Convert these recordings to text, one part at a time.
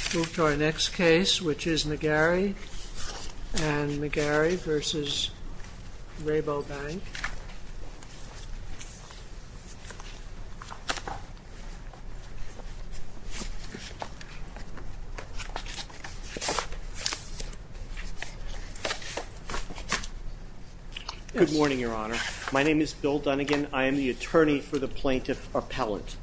Bill Dunnigan, Attorney for the Plaintiff Appellant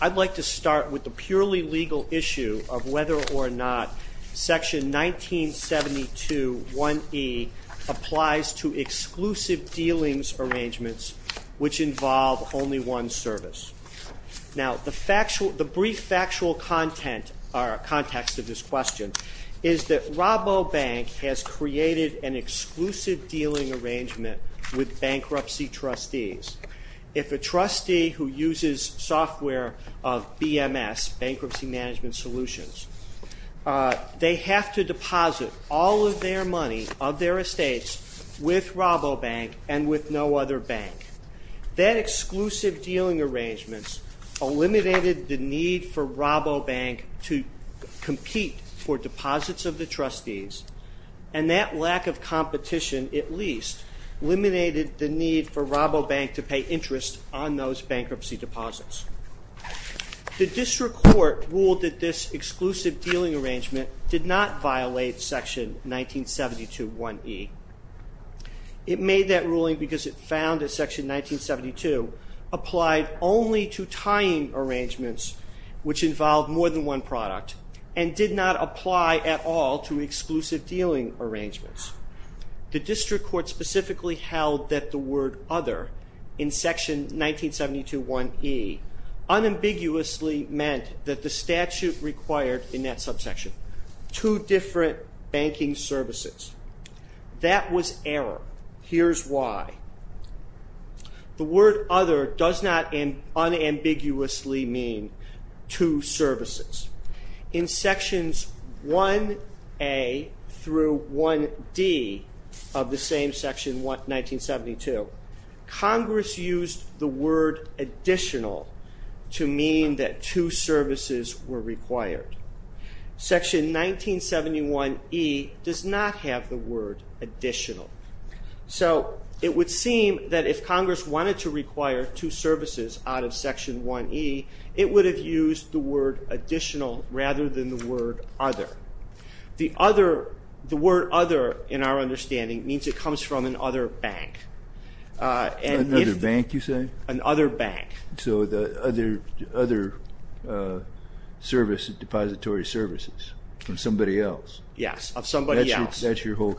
I'd like to start with the purely legal issue of whether or not Section 1972.1e applies to exclusive dealings arrangements which involve only one service. Now, the brief factual context of this question is that Rabobank has created an exclusive dealing arrangement with bankruptcy trustees. If a trustee who uses software of BMS, Bankruptcy Management Solutions, they have to deposit all of their money of their estates with Rabobank and with no other bank. That exclusive dealing arrangement eliminated the need for Rabobank to compete for deposits of the trustees and that lack of competition, at least, eliminated the need for Rabobank to pay interest on those bankruptcy deposits. The district court ruled that this exclusive dealing arrangement did not violate Section 1972.1e. It made that ruling because it found that Section 1972.1e applied only to tying arrangements which involved more than one product and did not apply at all to exclusive dealing arrangements. The district court specifically held that the word other in Section 1972.1e unambiguously meant that the statute required in that subsection two different banking services. That was error. Here's why. The word other does not unambiguously mean two services. In Sections 1a through 1d of the same Section 1972, Congress used the word additional to mean that two services were required. Section 1971.e does not have the word additional. So it would seem that if Congress wanted to require two services out of Section 1e, it would have used the word additional rather than the word other. The word other, in our understanding, means it comes from another bank. Another bank, you say? Another bank. So the other depository services from somebody else. Yes, of somebody else. That's your whole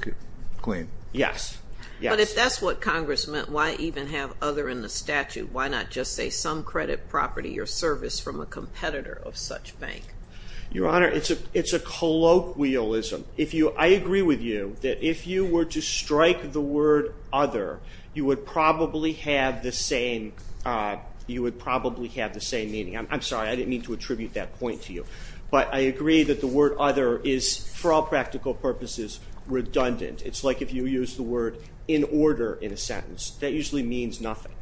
claim. Yes. But if that's what Congress meant, why even have other in the statute? Why not just say some credit property or service from a competitor of such bank? Your Honor, it's a colloquialism. I agree with you that if you were to strike the word other, you would probably have the same meaning. I'm sorry, I didn't mean to attribute that point to you. But I agree that the word other is, for all practical purposes, redundant. It's like if you use the word in order in a sentence. That usually means nothing.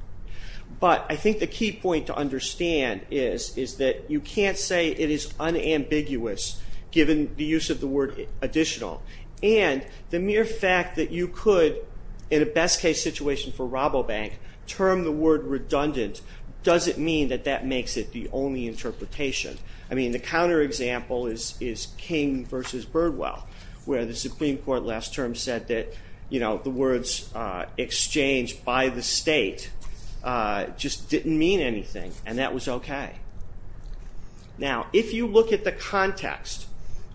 But I think the key point to understand is that you can't say it is unambiguous given the use of the word additional. And the mere fact that you could, in a best-case situation for Rabobank, term the word redundant doesn't mean that that makes it the only interpretation. I mean, the counterexample is King v. Birdwell, where the Supreme Court last term said that the words exchange by the state just didn't mean anything. And that was okay. Now, if you look at the context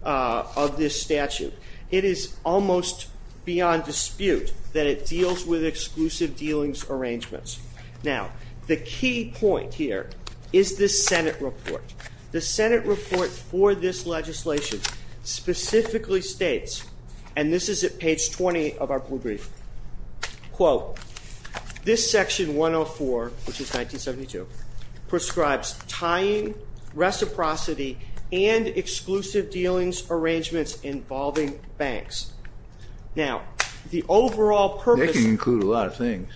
of this statute, it is almost beyond dispute that it deals with exclusive dealings arrangements. Now, the key point here is this Senate report. The Senate report for this legislation specifically states, and this is at page 20 of our blue brief, quote, this section 104, which is 1972, prescribes tying, reciprocity, and exclusive dealings arrangements involving banks. Now, the overall purpose- That can include a lot of things,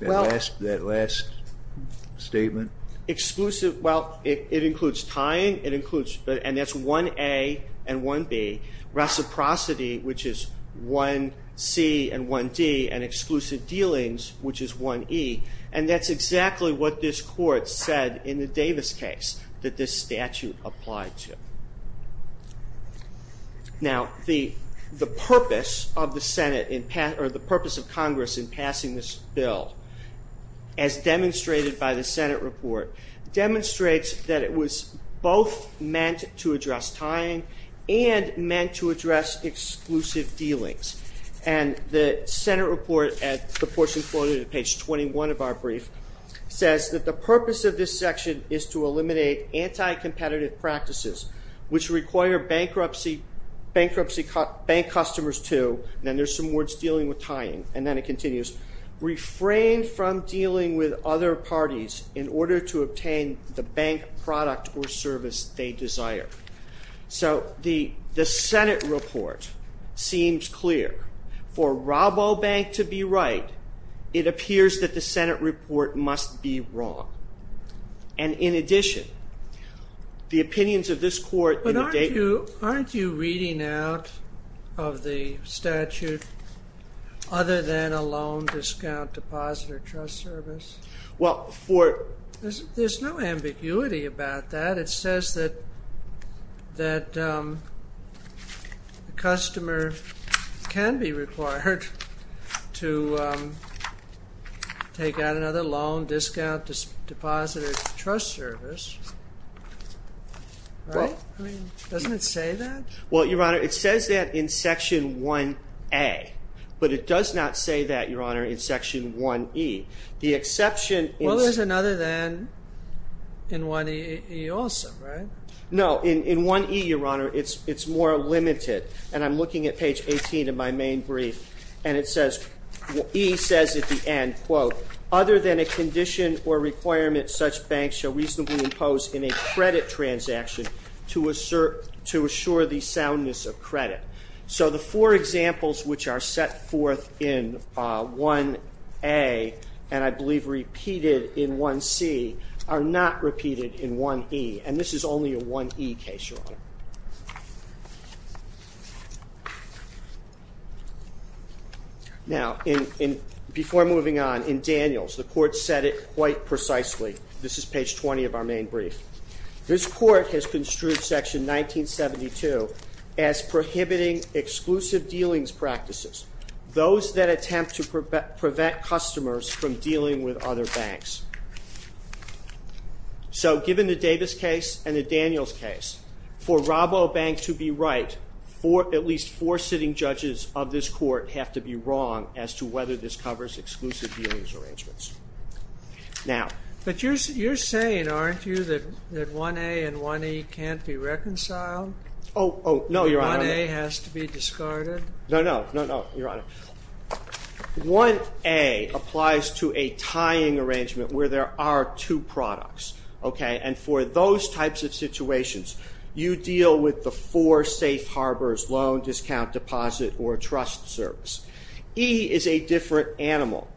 that last statement. Exclusive, well, it includes tying, and that's 1A and 1B. Reciprocity, which is 1C and 1D. And exclusive dealings, which is 1E. And that's exactly what this court said in the Davis case that this statute applied to. Now, the purpose of Congress in passing this bill, as demonstrated by the Senate report, demonstrates that it was both meant to address tying and meant to address exclusive dealings. And the Senate report, at the portion quoted at page 21 of our brief, says that the purpose of this section is to eliminate anti-competitive practices, which require bank customers to- and then there's some words dealing with tying, and then it continues- refrain from dealing with other parties in order to obtain the bank product or service they desire. So, the Senate report seems clear. For Rabobank to be right, it appears that the Senate report must be wrong. And in addition, the opinions of this court- But aren't you reading out of the statute other than a loan, discount, deposit, or trust service? Well, for- There's no ambiguity about that. It says that the customer can be required to take out another loan, discount, deposit, or trust service. Right? Doesn't it say that? Well, Your Honor, it says that in Section 1A. But it does not say that, Your Honor, in Section 1E. The exception is- No, in 1E, Your Honor, it's more limited. And I'm looking at page 18 of my main brief, and it says- E says at the end, quote, Other than a condition or requirement such banks shall reasonably impose in a credit transaction to assure the soundness of credit. So, the four examples which are set forth in 1A, and I believe repeated in 1C, are not repeated in 1E. And this is only a 1E case, Your Honor. Now, before moving on, in Daniels, the court said it quite precisely. This is page 20 of our main brief. This court has construed Section 1972 as prohibiting exclusive dealings practices. Those that attempt to prevent customers from dealing with other banks. So, given the Davis case and the Daniels case, for RoboBank to be right, at least four sitting judges of this court have to be wrong as to whether this covers exclusive dealings arrangements. Now- But you're saying, aren't you, that 1A and 1E can't be reconciled? Oh, no, Your Honor. 1A has to be discarded? No, no, no, no, Your Honor. 1A applies to a tying arrangement where there are two products, okay? And for those types of situations, you deal with the four safe harbors, loan, discount, deposit, or trust service. E is a different animal.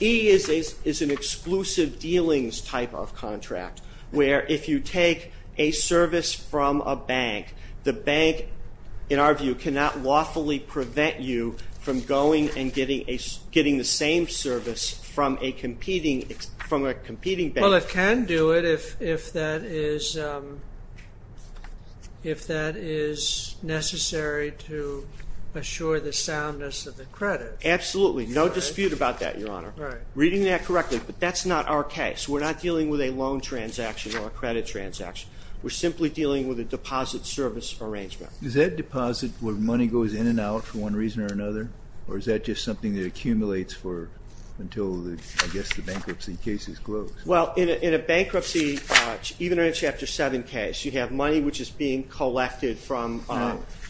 E is an exclusive dealings type of contract where if you take a service from a bank, the bank, in our view, cannot lawfully prevent you from going and getting the same service from a competing bank. Well, it can do it if that is necessary to assure the soundness of the credit. Absolutely. No dispute about that, Your Honor. Right. Reading that correctly. But that's not our case. We're not dealing with a loan transaction or a credit transaction. We're simply dealing with a deposit service arrangement. Is that deposit where money goes in and out for one reason or another, or is that just something that accumulates until, I guess, the bankruptcy case is closed? Well, in a bankruptcy, even in a Chapter 7 case, you have money which is being collected from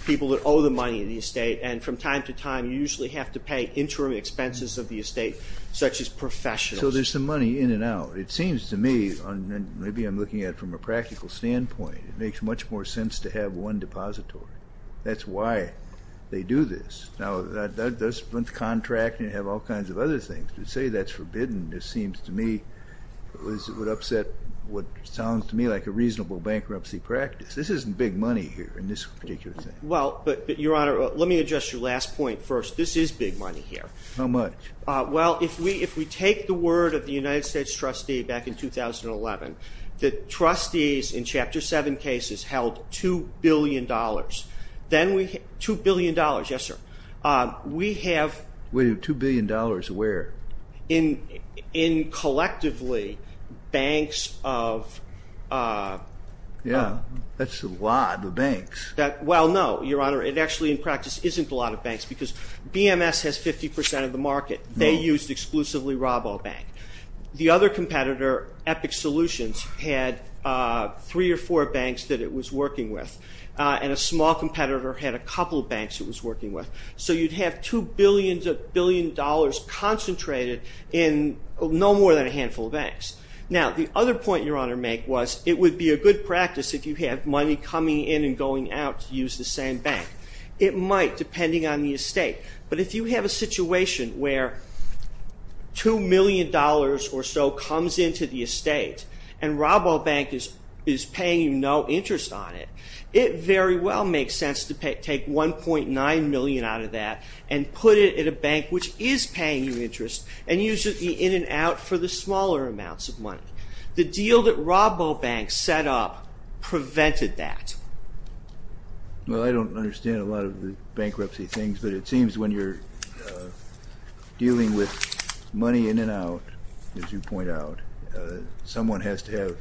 people that owe the money in the estate, and from time to time you usually have to pay interim expenses of the estate such as professionals. So there's some money in and out. It seems to me, and maybe I'm looking at it from a practical standpoint, it makes much more sense to have one depository. That's why they do this. Now, that's one contract, and you have all kinds of other things. To say that's forbidden, it seems to me, would upset what sounds to me like a reasonable bankruptcy practice. This isn't big money here in this particular thing. Well, but, Your Honor, let me address your last point first. This is big money here. How much? Well, if we take the word of the United States trustee back in 2011, the trustees in Chapter 7 cases held $2 billion. $2 billion, yes, sir. We have- Wait a minute, $2 billion where? In collectively banks of- Yeah, that's a lot of banks. Well, no, Your Honor, it actually in practice isn't a lot of banks because BMS has 50% of the market. They used exclusively RoboBank. The other competitor, Epic Solutions, had three or four banks that it was working with, and a small competitor had a couple of banks it was working with. So you'd have $2 billion concentrated in no more than a handful of banks. Now, the other point Your Honor made was it would be a good practice if you had money coming in and going out to use the same bank. It might depending on the estate, but if you have a situation where $2 million or so comes into the estate and RoboBank is paying you no interest on it, it very well makes sense to take $1.9 million out of that and put it in a bank which is paying you interest and use it in and out for the smaller amounts of money. The deal that RoboBank set up prevented that. Well, I don't understand a lot of the bankruptcy things, but it seems when you're dealing with money in and out, as you point out, someone has to have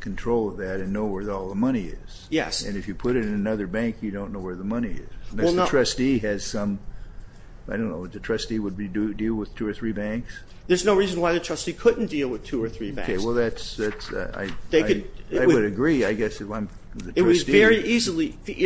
control of that and know where all the money is. Yes. And if you put it in another bank, you don't know where the money is. Unless the trustee has some, I don't know, the trustee would deal with two or three banks? There's no reason why the trustee couldn't deal with two or three banks. Okay. Well, I would agree, I guess, if I'm the trustee. It was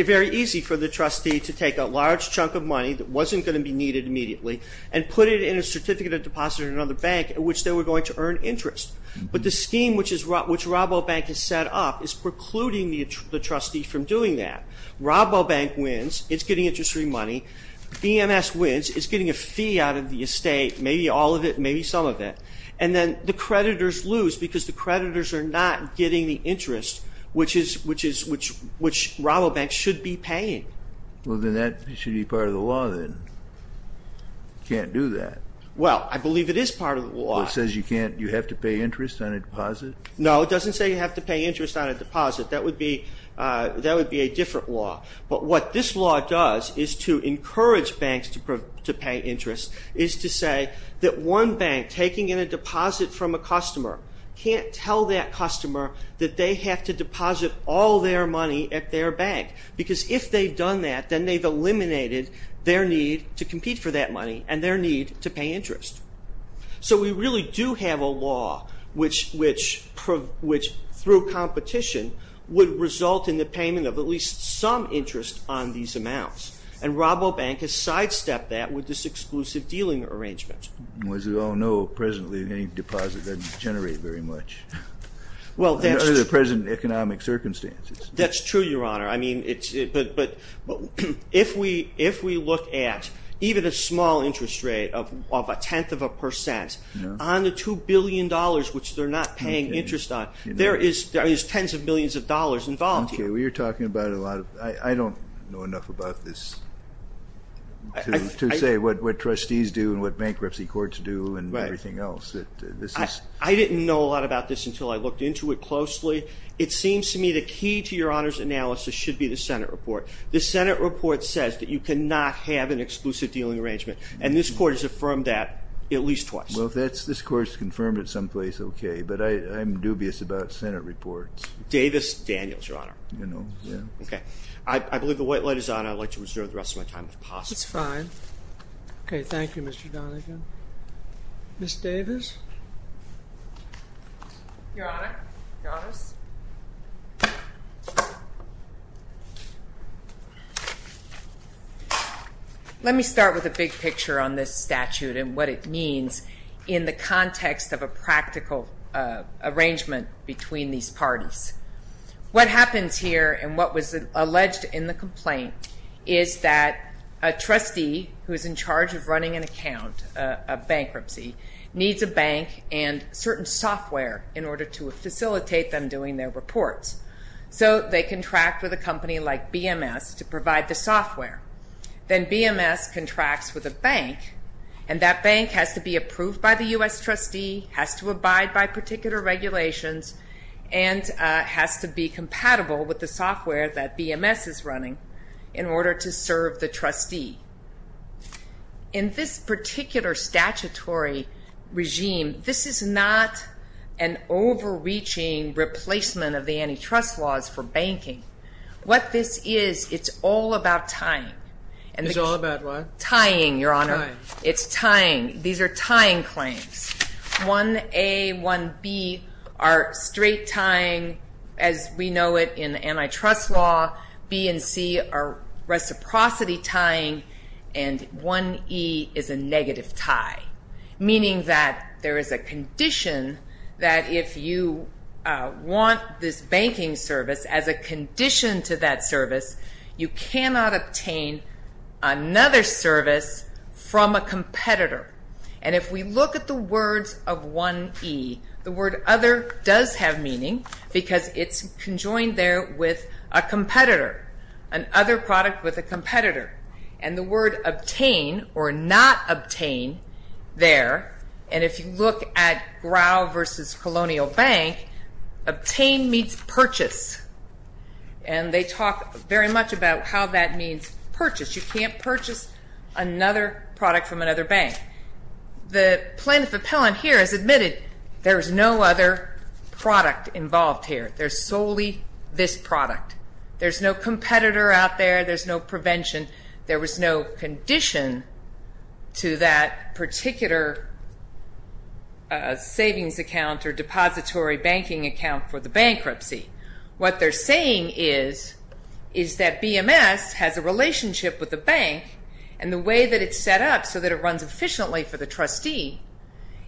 very easy for the trustee to take a large chunk of money that wasn't going to be needed immediately and put it in a certificate of deposit in another bank in which they were going to earn interest. But the scheme which RoboBank has set up is precluding the trustee from doing that. RoboBank wins. It's getting interest-free money. BMS wins. It's getting a fee out of the estate. Maybe all of it, maybe some of it. And then the creditors lose because the creditors are not getting the interest, which RoboBank should be paying. Well, then that should be part of the law, then. You can't do that. Well, I believe it is part of the law. It says you have to pay interest on a deposit? No, it doesn't say you have to pay interest on a deposit. That would be a different law. But what this law does is to encourage banks to pay interest, is to say that one bank taking in a deposit from a customer can't tell that customer that they have to deposit all their money at their bank. Because if they've done that, then they've eliminated their need to compete for that money and their need to pay interest. So we really do have a law which, through competition, would result in the payment of at least some interest on these amounts. And RoboBank has sidestepped that with this exclusive dealing arrangement. As we all know presently, any deposit doesn't generate very much, under the present economic circumstances. That's true, Your Honor. But if we look at even a small interest rate of a tenth of a percent, on the $2 billion, which they're not paying interest on, there is tens of millions of dollars involved here. Okay. Well, you're talking about a lot of... I don't know enough about this to say what trustees do and what bankruptcy courts do and everything else. I didn't know a lot about this until I looked into it closely. It seems to me the key to Your Honor's analysis should be the Senate report. The Senate report says that you cannot have an exclusive dealing arrangement, and this Court has affirmed that at least twice. Well, if this Court has confirmed it someplace, okay. But I'm dubious about Senate reports. Davis, Daniels, Your Honor. I believe the white light is on. I'd like to reserve the rest of my time, if possible. That's fine. Okay, thank you, Mr. Donegan. Ms. Davis? Your Honor. Let me start with a big picture on this statute and what it means in the context of a practical arrangement between these parties. What happens here and what was alleged in the complaint is that a trustee who is in charge of running an account, a bankruptcy, needs a bank and certain software in order to facilitate them doing their reports. So they contract with a company like BMS to provide the software. Then BMS contracts with a bank, and that bank has to be approved by the U.S. trustee, has to abide by particular regulations, and has to be compatible with the software that BMS is running in order to serve the trustee. In this particular statutory regime, this is not an overreaching replacement of the antitrust laws for banking. What this is, it's all about tying. It's all about what? Tying, Your Honor. Tying. It's tying. These are tying claims. 1A, 1B are straight tying, as we know it in antitrust law. B and C are reciprocity tying, and 1E is a negative tie, meaning that there is a condition that if you want this banking service as a condition to that service, you cannot obtain another service from a competitor. And if we look at the words of 1E, the word other does have meaning because it's conjoined there with a competitor, an other product with a competitor. And the word obtain or not obtain there, and if you look at Grow versus Colonial Bank, obtain meets purchase, and they talk very much about how that means purchase. You can't purchase another product from another bank. The plaintiff appellant here has admitted there is no other product involved here. There's solely this product. There's no competitor out there. There's no prevention. There was no condition to that particular savings account or depository banking account for the bankruptcy. What they're saying is that BMS has a relationship with the bank, and the way that it's set up so that it runs efficiently for the trustee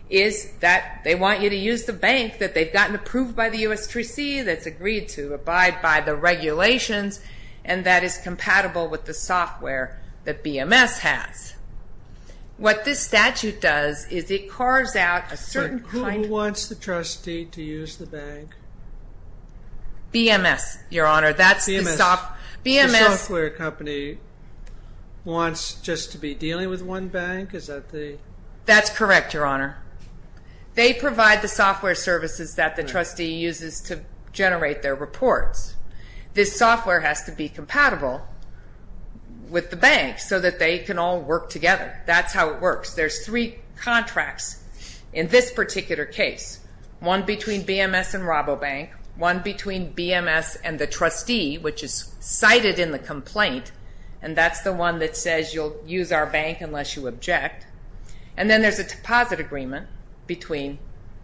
is that they want you to use the bank that they've gotten approved by the USTC, that's agreed to abide by the regulations, and that is compatible with the software that BMS has. What this statute does is it carves out a certain kind of... Who wants the trustee to use the bank? BMS, Your Honor. The software company wants just to be dealing with one bank? That's correct, Your Honor. They provide the software services that the trustee uses to generate their reports. This software has to be compatible with the bank so that they can all work together. That's how it works. There's three contracts in this particular case, one between BMS and Rabobank, one between BMS and the trustee, which is cited in the complaint, and that's the one that says you'll use our bank unless you object, and then there's a deposit agreement between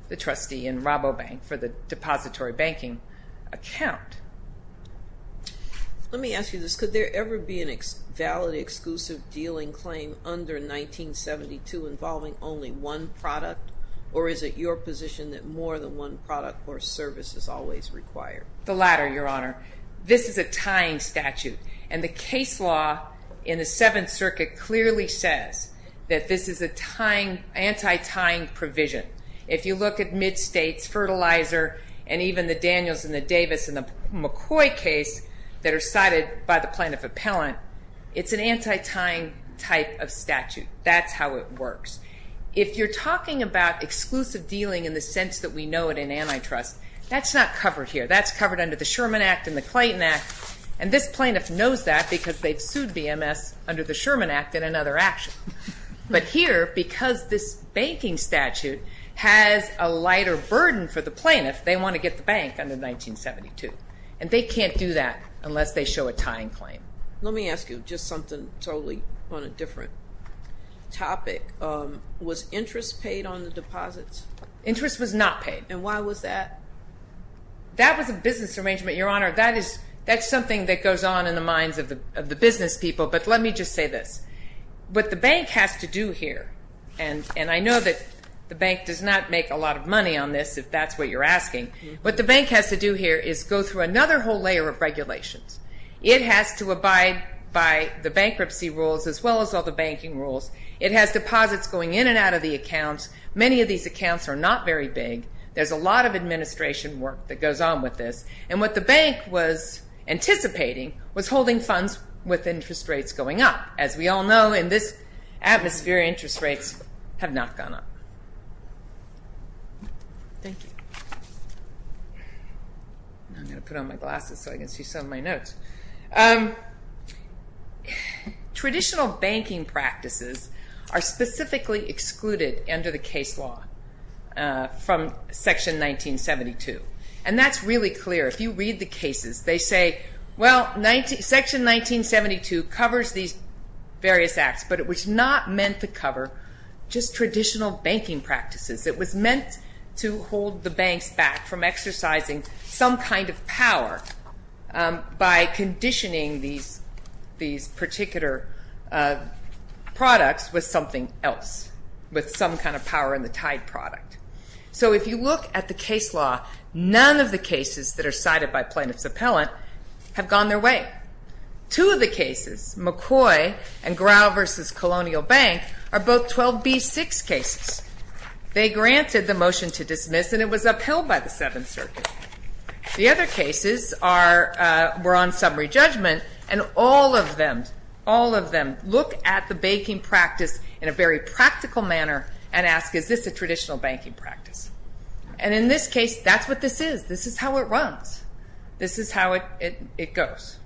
the trustee and Rabobank for the depository banking account. Let me ask you this. Could there ever be a valid exclusive dealing claim under 1972 involving only one product, or is it your position that more than one product or service is always required? The latter, Your Honor. This is a tying statute, and the case law in the Seventh Circuit clearly says that this is an anti-tying provision. If you look at MidStates, Fertilizer, and even the Daniels and the Davis and the McCoy case that are cited by the plaintiff appellant, it's an anti-tying type of statute. That's how it works. If you're talking about exclusive dealing in the sense that we know it in antitrust, that's not covered here. That's covered under the Sherman Act and the Clayton Act, and this plaintiff knows that because they've sued BMS under the Sherman Act in another action. But here, because this banking statute has a lighter burden for the plaintiff, they want to get the bank under 1972, and they can't do that unless they show a tying claim. Let me ask you just something totally on a different topic. Was interest paid on the deposits? Interest was not paid. And why was that? That was a business arrangement, Your Honor. That's something that goes on in the minds of the business people, but let me just say this. What the bank has to do here, and I know that the bank does not make a lot of money on this, if that's what you're asking, what the bank has to do here is go through another whole layer of regulations. It has to abide by the bankruptcy rules as well as all the banking rules. It has deposits going in and out of the accounts. Many of these accounts are not very big. There's a lot of administration work that goes on with this. And what the bank was anticipating was holding funds with interest rates going up. As we all know, in this atmosphere, interest rates have not gone up. Thank you. I'm going to put on my glasses so I can see some of my notes. Traditional banking practices are specifically excluded under the case law from Section 1972, and that's really clear. If you read the cases, they say, well, Section 1972 covers these various acts, but it was not meant to cover just traditional banking practices. It was meant to hold the banks back from exercising some kind of power by conditioning these particular products with something else, with some kind of power in the tied product. So if you look at the case law, none of the cases that are cited by plaintiff's appellant have gone their way. Two of the cases, McCoy and Grau v. Colonial Bank, are both 12B6 cases. They granted the motion to dismiss, and it was upheld by the Seventh Circuit. The other cases were on summary judgment, and all of them, all of them, look at the banking practice in a very practical manner and ask, is this a traditional banking practice? And in this case, that's what this is. This is how it runs. This is how it goes.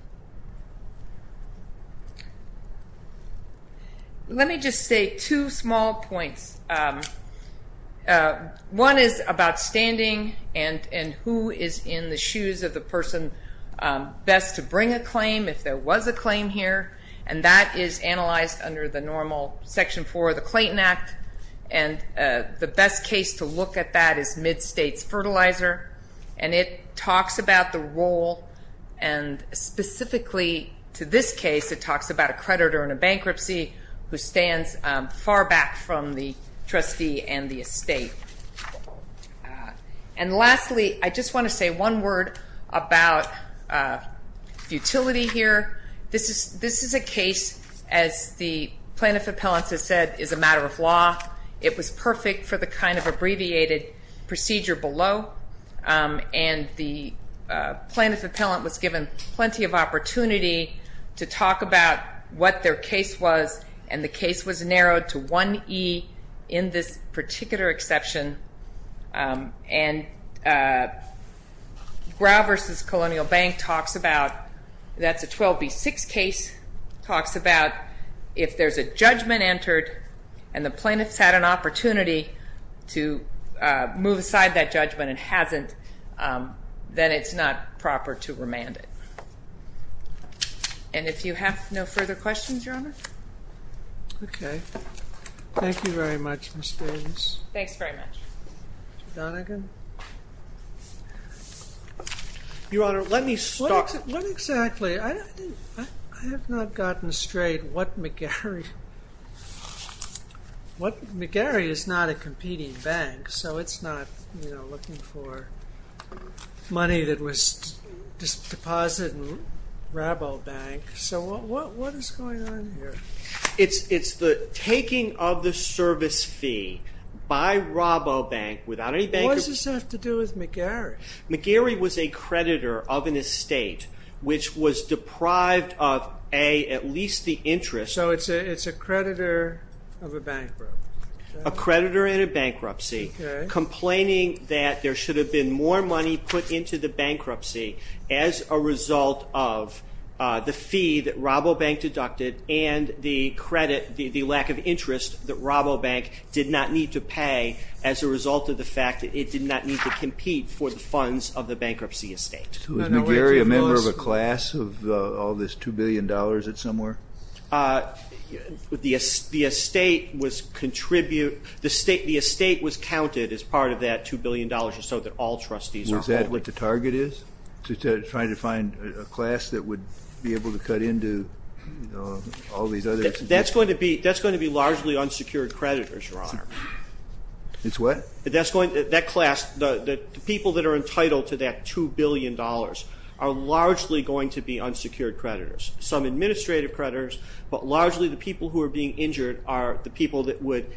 Let me just say two small points. One is about standing and who is in the shoes of the person best to bring a claim, if there was a claim here, and that is analyzed under the normal Section 4 of the Clayton Act. And the best case to look at that is MidStates Fertilizer, and it talks about the role, and specifically to this case, it talks about a creditor in a bankruptcy who stands far back from the trustee and the estate. And lastly, I just want to say one word about futility here. This is a case, as the plaintiff appellant has said, is a matter of law. It was perfect for the kind of abbreviated procedure below, and the plaintiff appellant was given plenty of opportunity to talk about what their case was, and the case was narrowed to 1E in this particular exception. And Grau v. Colonial Bank talks about, that's a 12B6 case, talks about if there's a judgment entered and the plaintiff's had an opportunity to move aside that judgment and hasn't, then it's not proper to remand it. And if you have no further questions, Your Honor? Okay. Thank you very much, Ms. Davies. Thanks very much. Mr. Donegan? Your Honor, let me start. What exactly? I have not gotten straight what McGarry... McGarry is not a competing bank, so it's not looking for money that was deposited in Rabobank. So what is going on here? It's the taking of the service fee by Rabobank without any bank... What does this have to do with McGarry? McGarry was a creditor of an estate which was deprived of, A, at least the interest... So it's a creditor of a bankrupt. A creditor in a bankruptcy, complaining that there should have been more money put into the bankruptcy as a result of the fee that Rabobank deducted and the credit, the lack of interest that Rabobank did not need to pay as a result of the fact that it did not need to compete for the funds of the bankruptcy estate. Was McGarry a member of a class of all this $2 billion that's somewhere? The estate was counted as part of that $2 billion or so that all trustees are holding. Is that what the target is, trying to find a class that would be able to cut into all these other... That's going to be largely unsecured creditors, Your Honor. It's what? That class, the people that are entitled to that $2 billion are largely going to be unsecured creditors. Some administrative creditors, but largely the people who are being injured are the people that would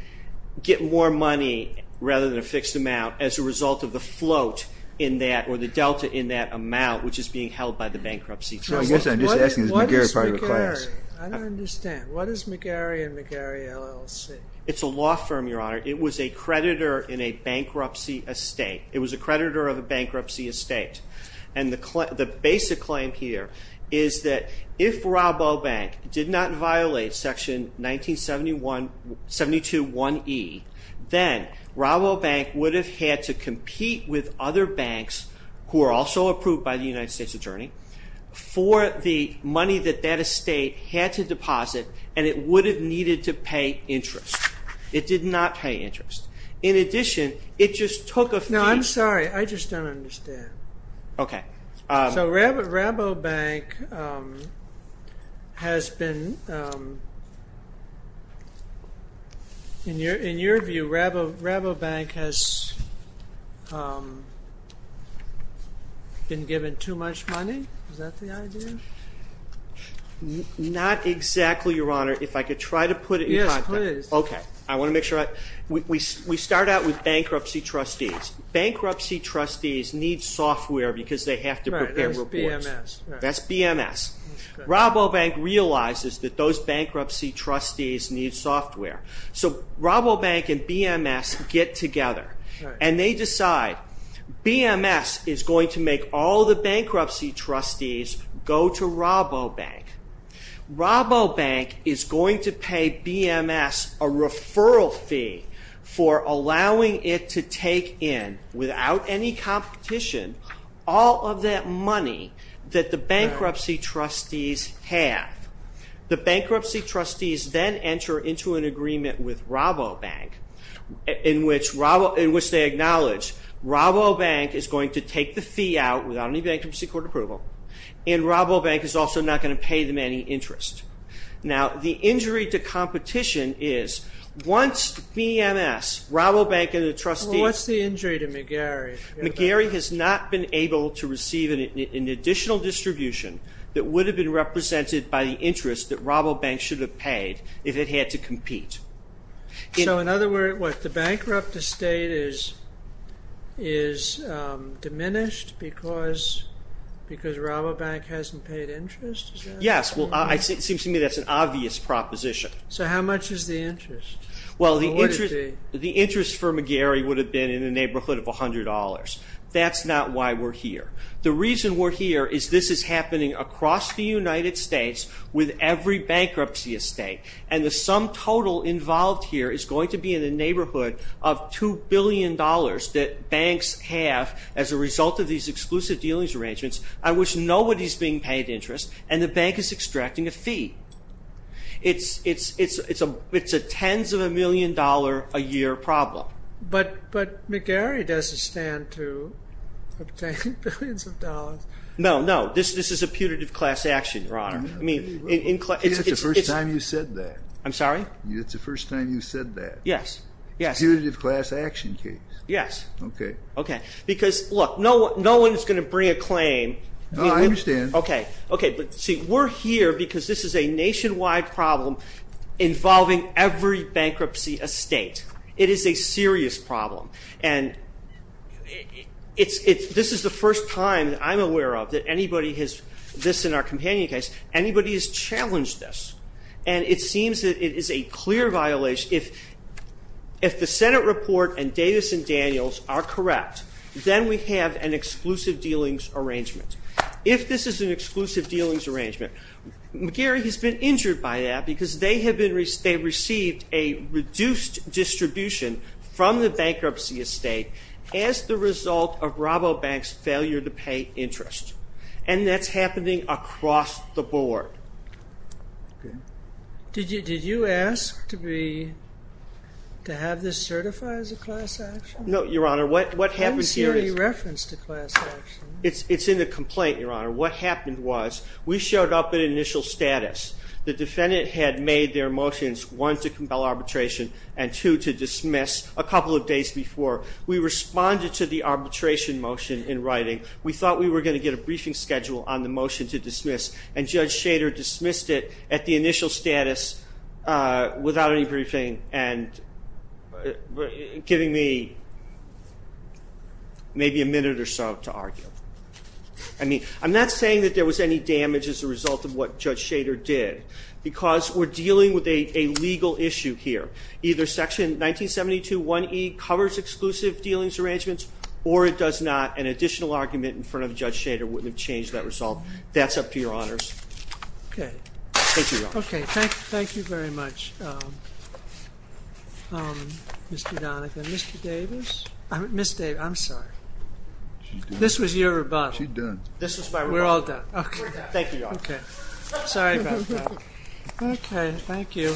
get more money rather than a fixed amount as a result of the float in that or the delta in that amount which is being held by the bankruptcy trust. I guess I'm just asking, is McGarry part of the class? What is McGarry? I don't understand. It's a law firm, Your Honor. It was a creditor in a bankruptcy estate. It was a creditor of a bankruptcy estate. And the basic claim here is that if Raubow Bank did not violate Section 1972-1E, then Raubow Bank would have had to compete with other banks who are also approved by the United States Attorney for the money that that estate had to deposit and it would have needed to pay interest. It did not pay interest. In addition, it just took a fee... No, I'm sorry. I just don't understand. Okay. So Raubow Bank has been... In your view, Raubow Bank has been given too much money? Is that the idea? Not exactly, Your Honor. If I could try to put it in context. I want to make sure I... We start out with bankruptcy trustees. Bankruptcy trustees need software because they have to prepare reports. That's BMS. Raubow Bank realizes that those bankruptcy trustees need software. So Raubow Bank and BMS get together and they decide BMS is going to make all the bankruptcy trustees go to Raubow Bank. Raubow Bank is going to pay BMS a referral fee for allowing it to take in, without any competition, all of that money that the bankruptcy trustees have. The bankruptcy trustees then enter into an agreement with Raubow Bank in which they acknowledge Raubow Bank is going to take the fee out without any bankruptcy court approval and Raubow Bank is also not going to pay them any interest. Now, the injury to competition is once BMS, Raubow Bank and the trustees... What's the injury to McGarry? McGarry has not been able to receive an additional distribution that would have been represented by the interest that Raubow Bank should have paid if it had to compete. So in other words, what, the bankrupt estate is diminished because Raubow Bank hasn't paid interest? Yes, well, it seems to me that's an obvious proposition. So how much is the interest? Well, the interest for McGarry would have been in the neighborhood of $100. That's not why we're here. The reason we're here is this is happening across the United States with every bankruptcy estate and the sum total involved here is going to be in the neighborhood of $2 billion that banks have as a result of these exclusive dealings arrangements on which nobody is being paid interest and the bank is extracting a fee. It's a tens of a million dollar a year problem. But McGarry doesn't stand to obtain billions of dollars. No, no, this is a putative class action, Your Honor. I mean... It's the first time you've said that. I'm sorry? It's the first time you've said that. Yes, yes. It's a putative class action case. Yes. Okay. Okay, because look, no one is going to bring a claim. No, I understand. Okay, but see, we're here because this is a nationwide problem involving every bankruptcy estate. It is a serious problem. And this is the first time that I'm aware of that anybody has, this in our companion case, anybody has challenged this. And it seems that it is a clear violation. If the Senate report and Davis and Daniels are correct, then we have an exclusive dealings arrangement. If this is an exclusive dealings arrangement, McGarry has been injured by that because they received a reduced distribution from the bankruptcy estate as the result of RoboBank's failure to pay interest. And that's happening across the board. Okay. Did you ask to be, to have this certified as a class action? No, Your Honor. What happened here is- I don't see any reference to class action. It's in the complaint, Your Honor. What happened was we showed up at initial status. The defendant had made their motions, one, to compel arbitration, and two, to dismiss a couple of days before. We responded to the arbitration motion in writing. We thought we were going to get a briefing schedule on the motion to dismiss, and Judge Schader dismissed it at the initial status without any briefing and giving me maybe a minute or so to argue. I mean, I'm not saying that there was any damage as a result of what Judge Schader did because we're dealing with a legal issue here. Either Section 1972.1e covers exclusive dealings arrangements, or it does not. An additional argument in front of Judge Schader wouldn't have changed that result. That's up to Your Honors. Okay. Thank you, Your Honor. Okay. Thank you very much, Mr. Donovan. Mr. Davis? Ms. Davis. I'm sorry. This was your rebuttal. She's done. This was my rebuttal. We're all done. Thank you, Your Honor. Okay. Sorry about that. Okay.